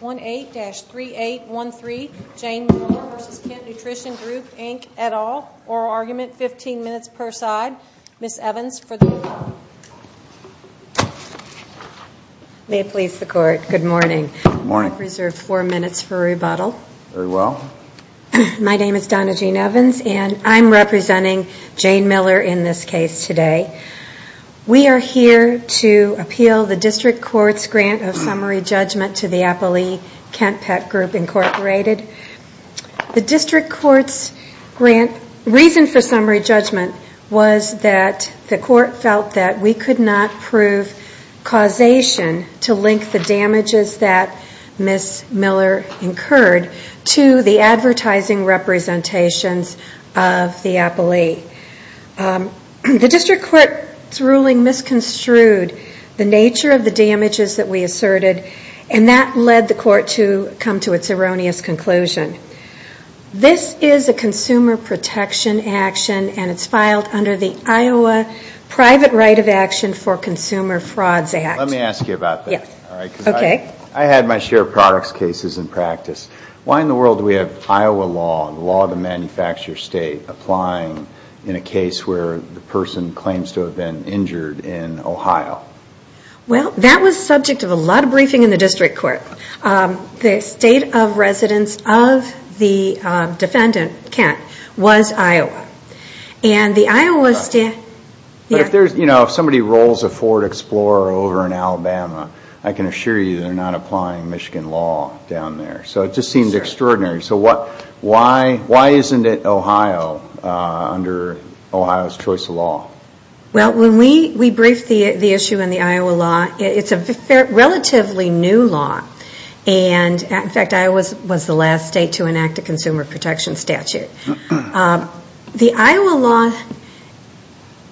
18-3813 Jane Miller v. Kent Nutrition Group Inc. et al. Oral Argument, 15 minutes per side. Ms. Evans for the rebuttal. May it please the Court, good morning. I have reserved four minutes for rebuttal. Very well. My name is Donna Jean Evans and I'm representing Jane Miller in this case today. We are here to appeal the District Court's grant of summary judgment to the Apolee Kent Pet Group Inc. The District Court's reason for summary judgment was that the Court felt that we could not prove causation to link the damages that Ms. Miller incurred to the advertising representations of the Apolee. The District Court's ruling misconstrued the nature of the damages that we asserted and that led the Court to come to its erroneous conclusion. This is a consumer protection action and it's filed under the Iowa Private Right of Action for Consumer Frauds Act. Let me ask you about that. Yes. All right. Okay. I had my share of products cases in practice. Why in the world do we have Iowa law, the law of the state, applying in a case where the person claims to have been injured in Ohio? Well, that was subject to a lot of briefing in the District Court. The state of residence of the defendant, Kent, was Iowa. And the Iowa state... If somebody rolls a Ford Explorer over in Alabama, I can assure you they're not applying Michigan law down there. So it just seems extraordinary. So why isn't it Ohio under Ohio's choice of law? Well, when we briefed the issue in the Iowa law, it's a relatively new law. And, in fact, Iowa was the last state to enact a consumer protection statute. The Iowa law,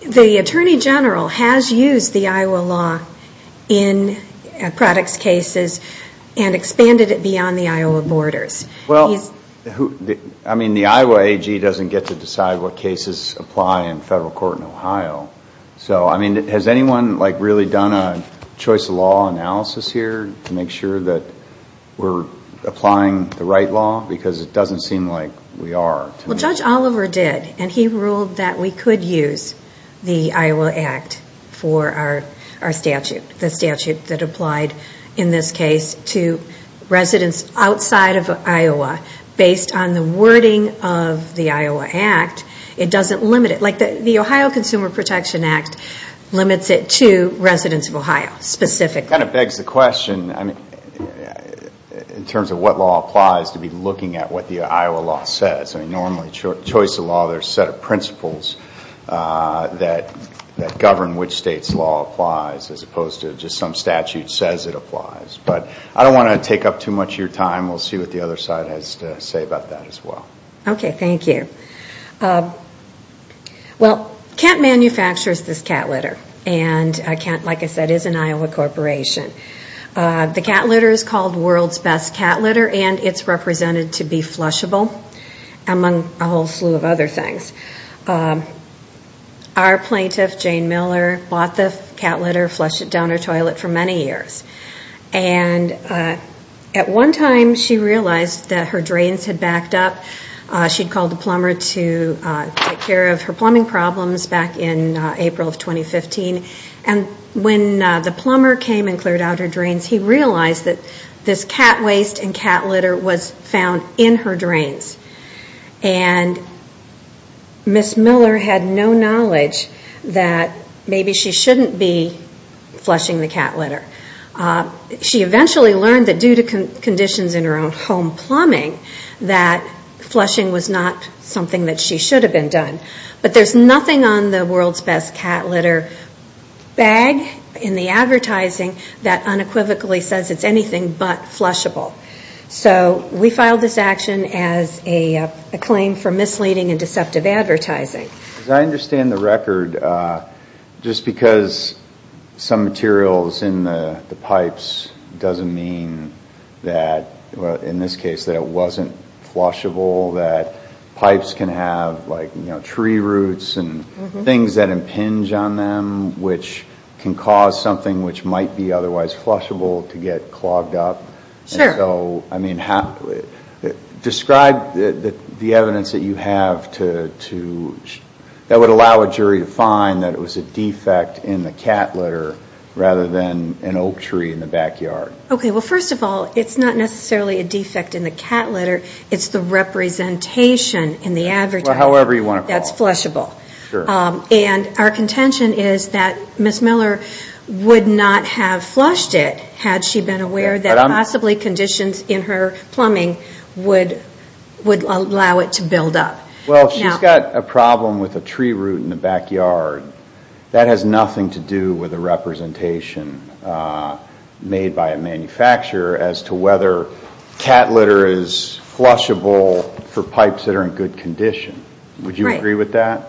the Attorney General has used the Iowa law in products cases and expanded it beyond the Iowa borders. Well, I mean, the Iowa AG doesn't get to decide what cases apply in federal court in Ohio. So, I mean, has anyone, like, really done a choice of law analysis here to make sure that we're applying the right law? Because it doesn't seem like we are. Well, Judge Oliver did, and he ruled that we could use the Iowa Act for our statute, the statute that based on the wording of the Iowa Act, it doesn't limit it. Like, the Ohio Consumer Protection Act limits it to residents of Ohio specifically. Kind of begs the question, I mean, in terms of what law applies to be looking at what the Iowa law says. I mean, normally choice of law, there's a set of principles that govern which state's law applies as opposed to just some statute says it applies. But I don't want to take up too much of your time. We'll see what the other side has to say about that as well. Okay, thank you. Well, Kent manufactures this cat litter. And Kent, like I said, is an Iowa corporation. The cat litter is called world's best cat litter, and it's represented to be flushable, among a whole slew of other things. Our plaintiff, Jane Miller, bought the cat litter, flushed it down her toilet for many years. And at one time, she realized that her drains had backed up. She called the plumber to take care of her plumbing problems back in April of 2015. And when the plumber came and cleared out her drains, he realized that this cat waste and cat litter was found in her drains. And Ms. Miller had no knowledge that maybe she shouldn't be flushing the cat litter. She eventually learned that due to conditions in her own home plumbing, that flushing was not something that she should have been done. But there's nothing on the world's best cat litter bag in the advertising that unequivocally says it's anything but flushable. So we filed this action as a claim for misleading and deceptive advertising. As I understand the record, just because some material is in the pipes doesn't mean that, in this case, that it wasn't flushable, that pipes can have tree roots and things that impinge on them, which can cause something which would allow a jury to find that it was a defect in the cat litter rather than an oak tree in the backyard. Okay. Well, first of all, it's not necessarily a defect in the cat litter. It's the representation in the advertising that's flushable. And our contention is that Ms. Miller would not have flushed it had she been aware that possibly conditions in her plumbing would allow it to build up. Well, she's got a problem with a tree root in the backyard. That has nothing to do with a representation made by a manufacturer as to whether cat litter is flushable for pipes that are in good condition. Would you agree with that?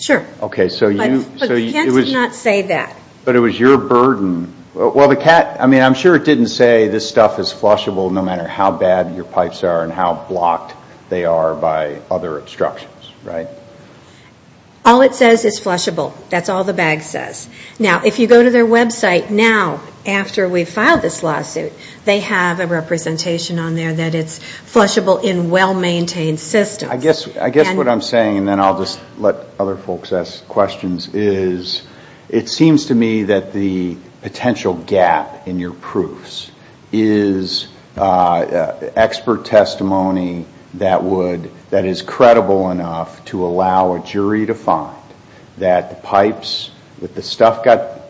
Sure. But the cat did not say that. But it was your burden. Well, the cat, I mean, I'm sure it didn't say this stuff is flushable no matter how bad your pipes are and how blocked they are by other instructions, right? All it says is flushable. That's all the bag says. Now, if you go to their website now, after we've filed this lawsuit, they have a representation on there that it's flushable in well-maintained systems. I guess what I'm saying, and then I'll just let other folks ask questions, is it seems to me that the potential gap in your proofs is expert testimony that is credible enough to allow a jury to find that the pipes, that the stuff got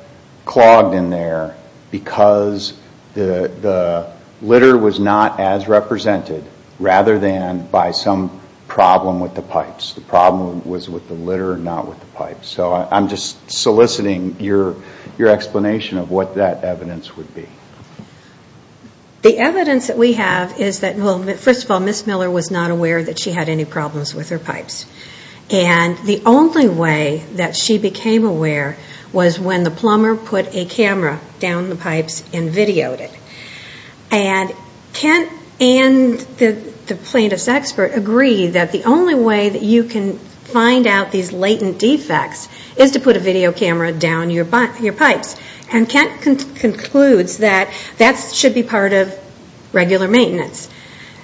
clogged in there because the litter was not as represented rather than by some product that was not flushable. So I'm just soliciting your explanation of what that evidence would be. The evidence that we have is that, well, first of all, Ms. Miller was not aware that she had any problems with her pipes. And the only way that she became aware was when the plumber put a camera down the pipes and videoed it. And Kent and the plaintiff's expert agree that the only way that you can find out these latent defects is to put a video camera down your pipes. And Kent concludes that that should be part of regular maintenance.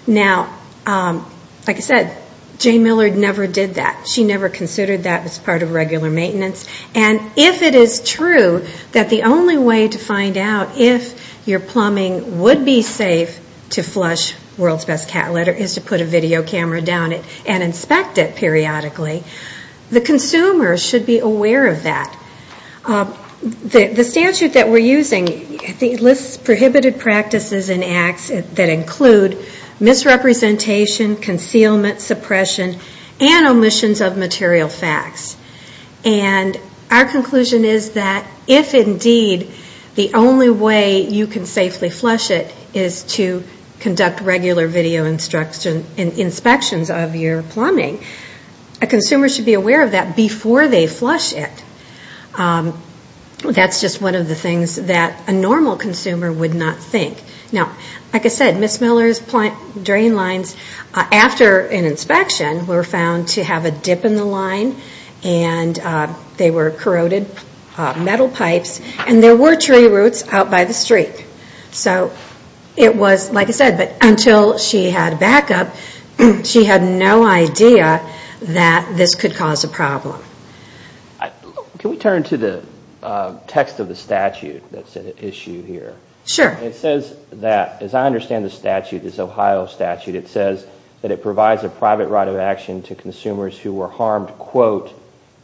Now, like I said, Jane Miller never did that. She never considered that as part of regular maintenance. And if it is true that the only way to find out if your plumbing would be safe to flush World's Best Cat Litter is to put a video camera down it and inspect it periodically, the consumer should be aware of that. The statute that we're using lists prohibited practices and acts that include misrepresentation, concealment, suppression, and omissions of material facts. And our conclusion is that if indeed the only way you can safely flush it is to conduct regular video inspections of your plumbing, a consumer should be aware of that before they flush it. That's just one of the things that a normal consumer would not think. Now, like I said, Ms. Miller's drain lines, after an inspection, were found to have a dip in the line. And they were corroded metal pipes. And there were tree roots out by the street. So it was, like I said, until she had backup, she had no idea that this could cause a problem. Can we turn to the text of the statute that's at issue here? It says that, as I understand the statute, this Ohio statute, it says that it provides a private right of action to consumers who were harmed, quote,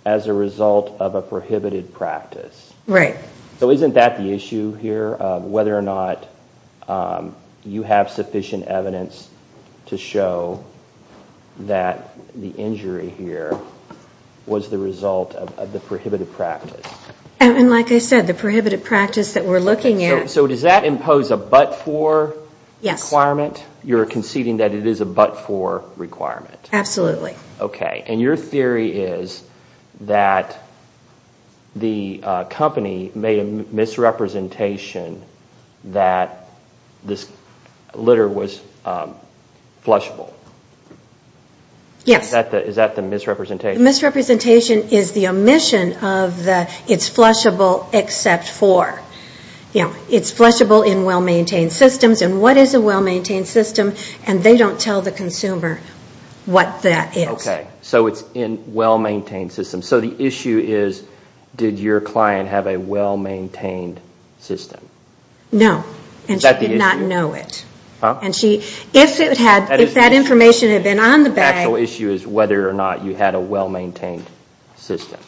as a result of a prohibited practice. So isn't that the issue here, whether or not you have sufficient evidence to show that the injury here was the result of the prohibited practice? And like I said, the prohibited practice that we're looking at... So does that impose a but-for requirement? You're conceding that it is a but-for requirement? Absolutely. Okay. And your theory is that the company made a misrepresentation that this litter was flushable? Yes. Is that the misrepresentation? The misrepresentation is the omission of the, it's flushable except for. It's flushable in well-maintained systems. And what is a well-maintained system? And they don't tell the consumer what that is. Okay. So it's in well-maintained systems. So the issue is, did your client have a well-maintained system? No. And she did not know it. If that information had been on the bag... The actual issue is whether or not you had a well-maintained system.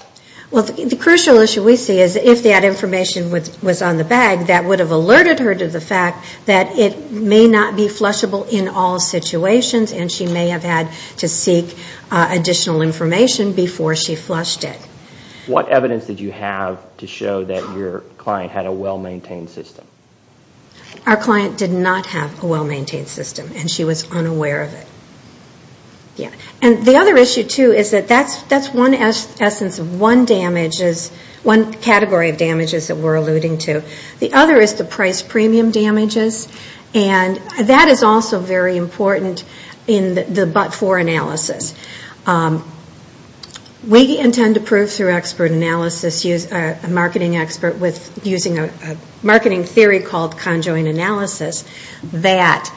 Well, the crucial issue we see is if that information was on the bag, that would have alerted her to the fact that it may not be flushable in all situations and she may have had to seek additional information before she flushed it. What evidence did you have to show that your client had a well-maintained system? Our client did not have a well-maintained system. And she was unaware of it. And the other issue, too, is that that's one essence of one category of damages that we're alluding to. The other is the price premium damages. And that is also very important in the but-for analysis. We intend to prove through expert analysis, a marketing expert, using a marketing theory called conjoined analysis, that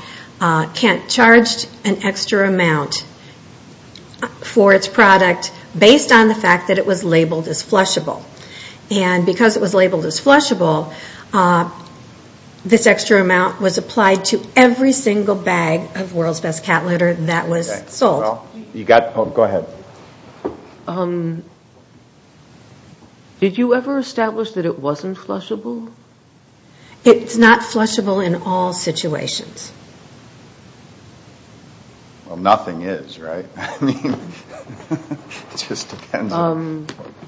Kent charged an extra amount for its product based on the fact that it was labeled as flushable. And because it was labeled as flushable, this extra amount was applied to every single bag of World's Best cat litter that was sold. Go ahead. Did you ever establish that it wasn't flushable? It's not flushable in all situations. Well, nothing is, right? It just depends on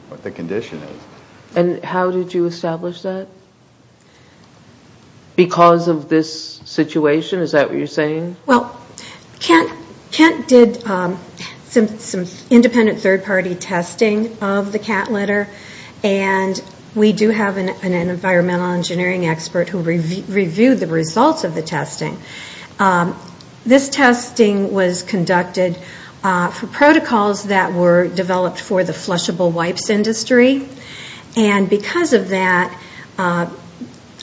what the condition is. And how did you establish that? Because of this situation? Is that what you're saying? Well, Kent did some independent third-party testing of the cat litter. And we do have an environmental engineering expert who reviewed the results of the testing. This testing was conducted for protocols that were developed for the flushable wipes industry. And because of that,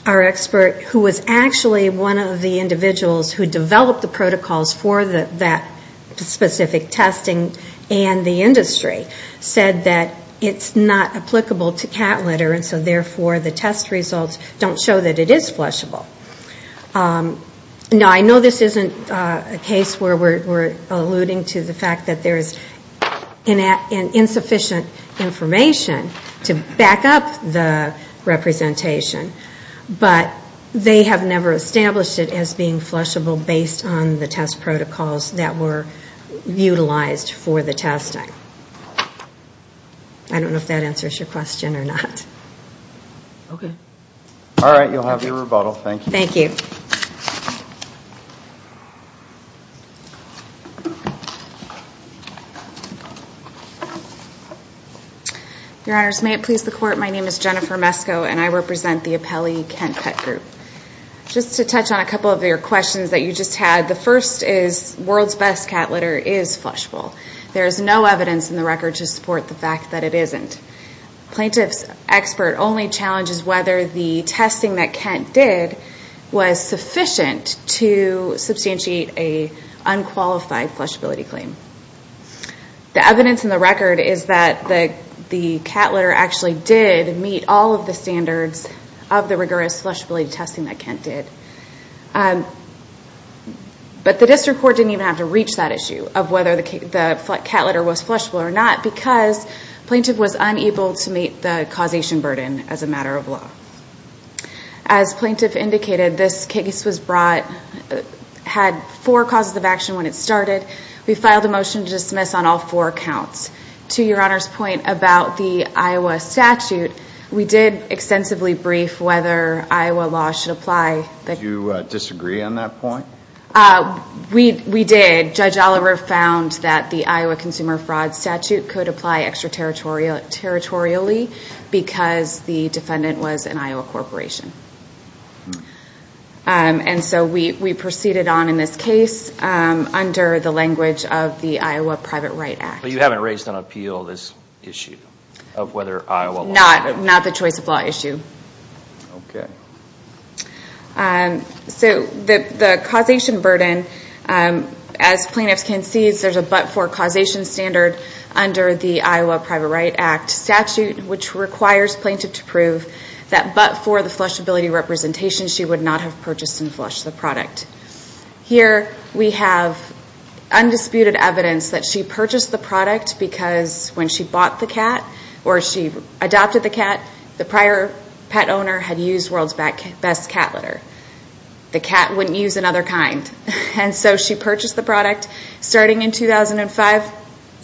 our expert, who was actually one of the individuals who developed the protocols for that specific testing and the industry, said that it's not applicable to cat litter. And so therefore, the test results don't show that it is flushable. Now, I know this isn't a case where we're alluding to the fact that there's insufficient information to back up the representation. But they have never established it as being flushable based on the test protocols that were utilized for the testing. I don't know if that answers your question or not. Okay. All right. You'll have your rebuttal. Thank you. Your Honors, may it please the Court, my name is Jennifer Mesko and I represent the Apelli Kent Pet Group. Just to touch on a couple of your questions that you just had. The first is, world's best cat litter is flushable. There is no evidence in the record to support the fact that it isn't. Plaintiff's expert only challenges whether the testing that Kent did was sufficient to substantiate an unqualified flushability claim. The evidence in the record is that the cat litter actually did meet all of the standards of the rigorous flushability testing that Kent did. But the District Court didn't even have to reach that issue of whether the cat litter was flushable or not because plaintiff was unable to meet the causation burden as a matter of law. As plaintiff indicated, this case was brought, had four causes of action when it started. We filed a motion to dismiss on all four counts. To your Honor's point about the Iowa statute, we did extensively brief whether Iowa law should apply. Did you disagree on that point? We did. Judge Oliver found that the Iowa Consumer Fraud Statute could apply extraterritorially because the defendant was an Iowa corporation. We proceeded on in this case under the language of the Iowa Private Right Act. You haven't raised on appeal this issue? Not the choice of law issue. The causation burden, as plaintiff concedes, there's a but-for causation standard under the Iowa Private Right Act statute which requires plaintiff to prove that but-for the flushability representation she would not have purchased and flushed the product. Here we have undisputed evidence that she purchased the product because when she bought the cat or she adopted the cat, the prior pet owner had used World's Best Cat Litter. The cat wouldn't use another kind. She purchased the product starting in 2005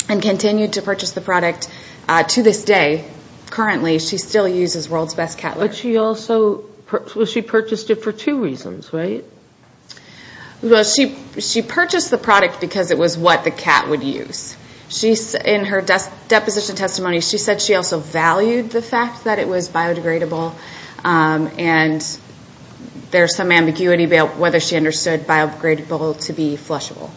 and continued to purchase the product to this day. Currently she still uses World's Best Cat Litter. She purchased it for two reasons, right? She purchased the product because it was what the cat would use. In her opinion, and there's some ambiguity about whether she understood biodegradable to be flushable.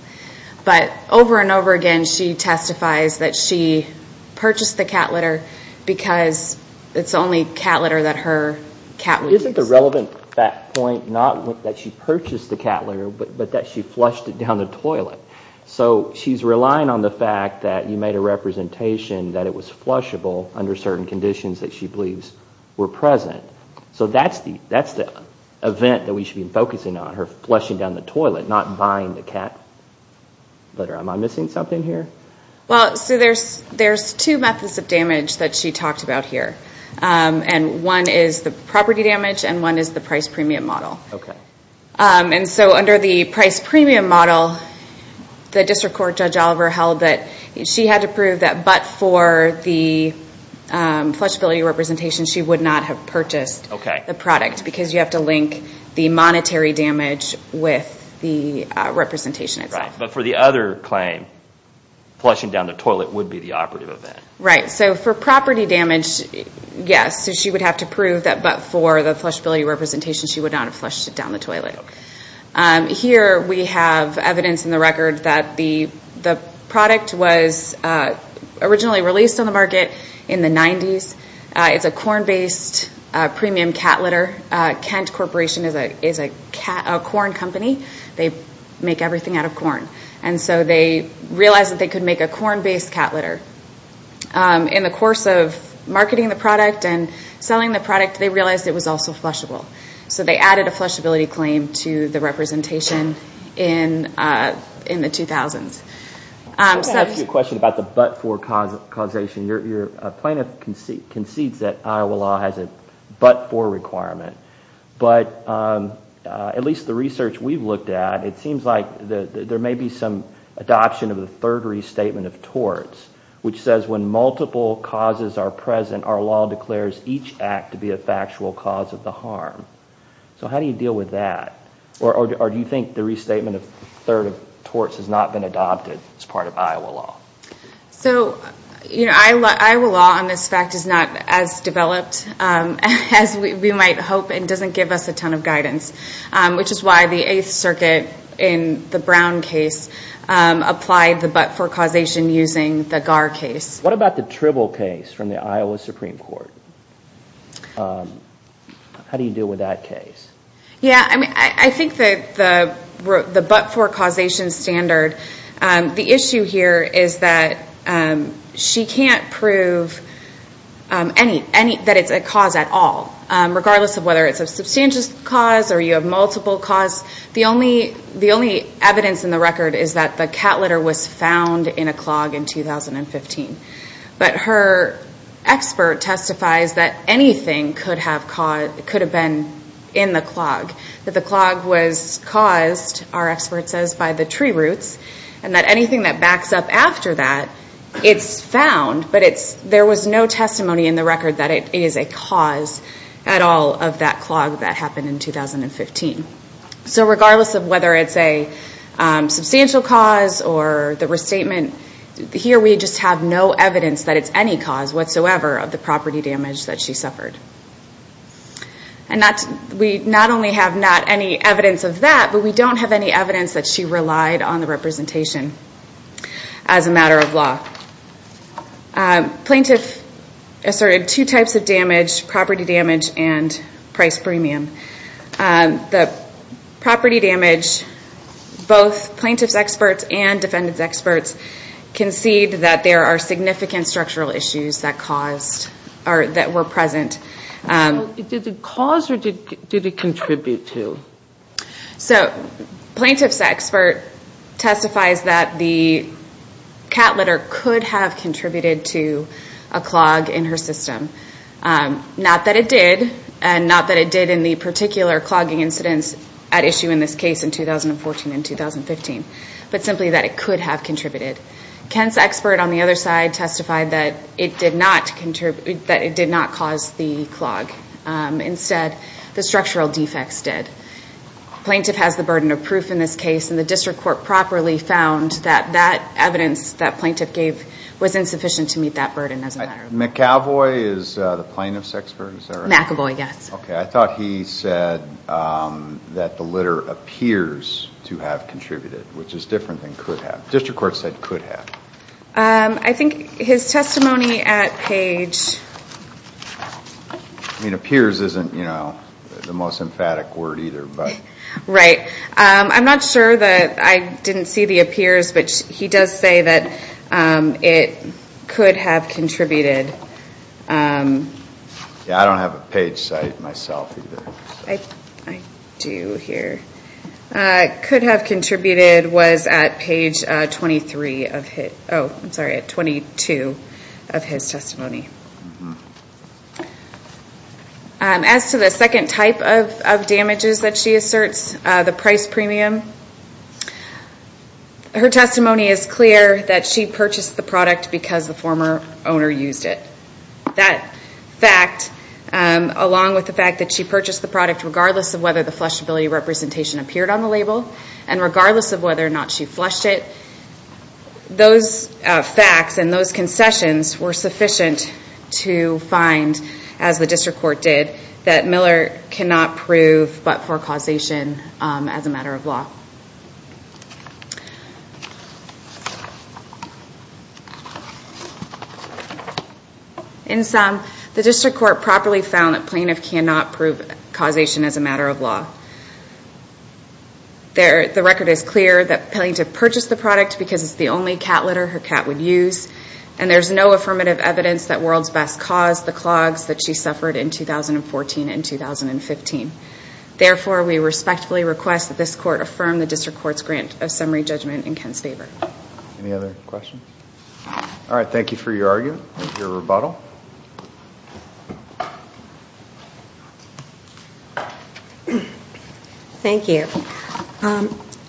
But over and over again she testifies that she purchased the cat litter because it's the only cat litter that her cat would use. Isn't the relevant fact point not that she purchased the cat litter but that she flushed it down the toilet? So she's relying on the fact that you made a So that's the event that we should be focusing on, her flushing down the toilet, not buying the cat litter. Am I missing something here? There's two methods of damage that she talked about here. One is the property damage and one is the price premium model. So under the price premium model, the District Court Judge Oliver held that she had to prove that but for the flushability representation she would not have purchased the product because you have to link the monetary damage with the representation itself. But for the other claim, flushing down the toilet would be the operative event. Right. So for property damage, yes. She would have to prove that but for the flushability representation she would not have flushed it down the toilet. Here we have evidence in the record that the product was originally released on the market in the 90s. It's a corn based premium cat litter. Kent Corporation is a corn company. They make everything out of corn. And so they realized that they could make a corn based cat litter. In the course of marketing the product and selling the product they realized it was also flushable. So they added a flushability claim to the representation in the 2000s. I have a question about the but for causation. A plaintiff concedes that Iowa law has a but for requirement. But at least the research we've looked at, it seems like there may be some adoption of the third restatement of torts which says when multiple causes are present our law declares each act to be a factual cause of the harm. So how do you deal with that? Or do you think the restatement of third of torts has not been adopted as part of Iowa law? So, you know, Iowa law on this fact is not as developed as we might hope and doesn't give us a ton of guidance. Which is why the 8th circuit in the Brown case applied the but for causation using the GAR case. What about the Tribble case from the Iowa Supreme Court? How do you deal with that case? Yeah, I mean, I think the but for causation standard the issue here is that she can't prove that it's a cause at all. Regardless of whether it's a substantial cause or you have multiple cause, the only evidence in the record is that the cat litter was found in a clog in 2015. But her expert testifies that anything could have been in the clog. That the clog was caused, our expert says, by the tree roots and that anything that backs up after that, it's found. But there was no testimony in the record that it is a cause at all of that clog that happened in 2015. So regardless of whether it's a substantial cause or the restatement, here we just have no evidence that it's any cause whatsoever of the property damage that she suffered. We not only have not any evidence of that, but we don't have any evidence that she relied on the two types of damage, property damage and price premium. The property damage, both plaintiff's experts and defendant's experts concede that there are significant structural issues that caused or that were present. Did it cause or did it contribute to? So, plaintiff's expert testifies that the cat litter could have contributed to a clog in her system. Not that it did and not that it did in the particular clogging incidents at issue in this case in 2014 and 2015. But simply that it could have contributed. Kent's expert on the other side testified that it did not cause the clog. Instead, the structural defects did. Plaintiff has the burden of proof in this case and the district court properly found that evidence that plaintiff gave was insufficient to meet that burden as a matter of fact. McEvoy is the plaintiff's expert? McEvoy, yes. Okay, I thought he said that the litter appears to have contributed, which is different than could have. District court said could have. I think his testimony at Page I mean appears isn't the most emphatic word either. Right. I'm not sure that I didn't see the appears, but he does say that it could have contributed. Yeah, I don't have a page site myself either. I do here. Could have contributed was at Page 23. Oh, I'm sorry, at 22 of his testimony. As to the second type of damages that she asserts, the price premium, her testimony is clear that she purchased the product because the former owner used it. That fact, along with the fact that she purchased the product regardless of whether the flushability representation appeared on the label and regardless of whether or not she flushed it, those facts and those concessions were sufficient to find, as the district court did, that Miller cannot prove but for causation as a matter of law. In sum, the district court properly found that Plaintiff cannot prove causation as a matter of law. The record is clear that Plaintiff purchased the product because it's the only cat litter her cat would use, and there's no affirmative evidence that World's Best caused the clogs that she suffered in 2014 and 2015. Therefore, we respectfully request that this court affirm the district court's grant of summary judgment in Ken's favor. Any other questions? Alright, thank you for your argument, your rebuttal. Thank you.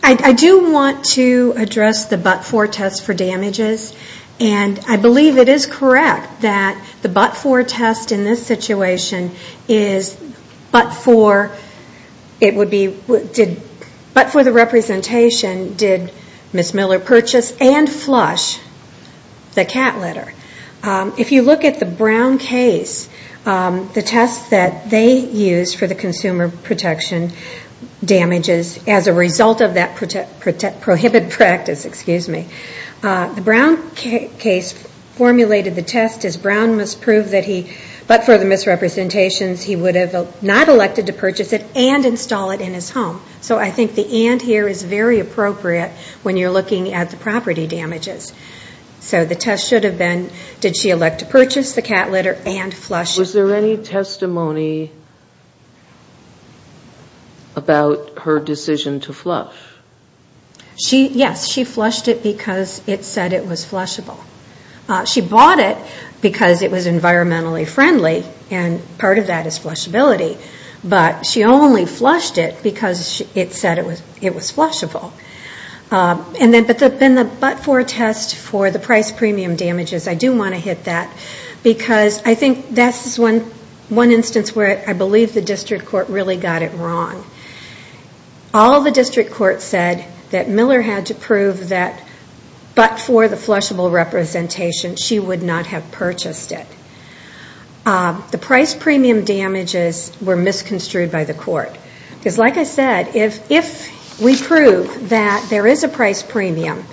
I do want to address the but-for test for damages, and I believe it is correct that the but-for test in this situation is but-for the representation did Ms. Miller purchase and flush the cat litter. If you look at the Brown case, the test that they used for the consumer protection damages as a result of that prohibited practice, the Brown case formulated the test as Brown must prove but-for the misrepresentations, he would have not elected to purchase it and install it in his home. So I think the and here is very appropriate when you're looking at the property damages. So the test should have been, did she elect to purchase the cat litter and flush it. Was there any testimony about her decision to flush? Yes, she flushed it because it said it was flushable. She bought it because it was environmentally friendly and part of that is flushability, but she only flushed it because it said it was flushable. But the but-for test for the price premium damages, I do want to hit that because I think that's one instance where I believe the district court really got it wrong. All the district court said that Miller had to prove that but-for the flushable representation, she would not have purchased it. The price premium damages were misconstrued by the court. Because like I said, if we prove that there is a price premium,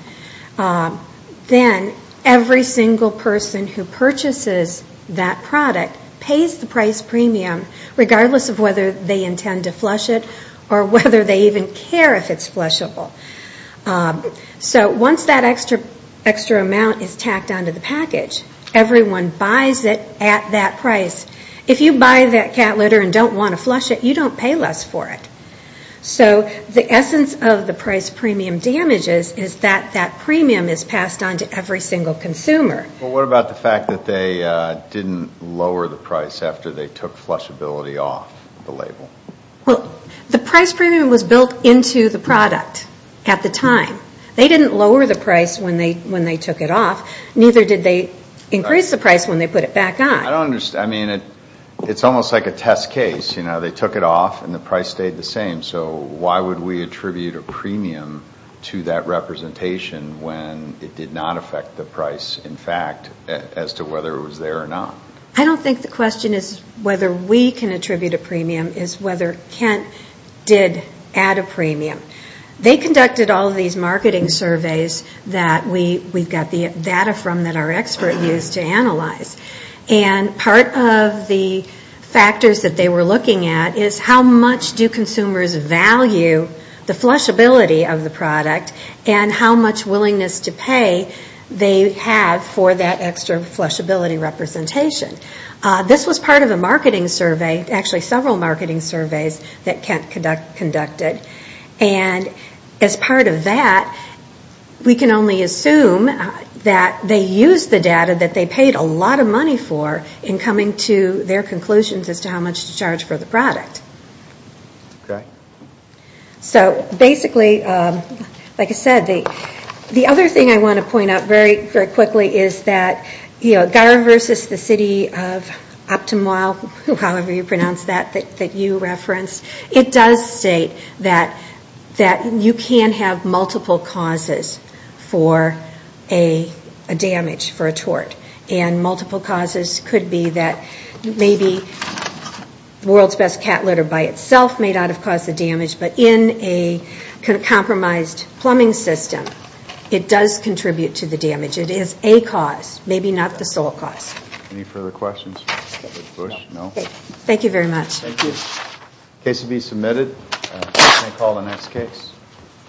then every single person who purchases that cat litter is going to pay less for it or whether they even care if it's flushable. So once that extra amount is tacked onto the package, everyone buys it at that price. If you buy that cat litter and don't want to flush it, you don't pay less for it. So the essence of the price premium damages is that that premium is passed on to every single consumer. Well, what about the fact that they didn't lower the price after they took flushability off the label? Well, the price premium was built into the product at the time. They didn't lower the price when they took it off, neither did they increase the price when they put it back on. I don't understand. I mean, it's almost like a test case. They took it off and the price stayed the same, so why would we attribute a premium to that representation when it did not affect the price, in fact, as to whether it was there or not? I don't think the question is whether we can attribute a premium. It's whether Kent did add a premium. They conducted all of these marketing surveys that we got the data from that our expert used to analyze. And part of the factors that they were looking at is how much do consumers value the flushability of the product and how much willingness to pay they have for that extra flushability representation. This was part of a marketing survey, actually several marketing surveys that Kent conducted. And as part of that, we can only assume that they used the data that they paid a lot of money for in coming to their conclusions as to how much to charge for the product. So basically, like I said, the other thing I want to point out very quickly is that Gara versus the city of Optumwa, however you pronounce that, that you referenced, it does state that you can have multiple causes for a damage for a tort. And multiple causes could be that maybe the world's best cat litter company, or maybe the world's best pet store cat litter by itself may not have caused the damage, but in a compromised plumbing system, it does contribute to the damage. It is a cause, maybe not the sole cause. Thank you very much.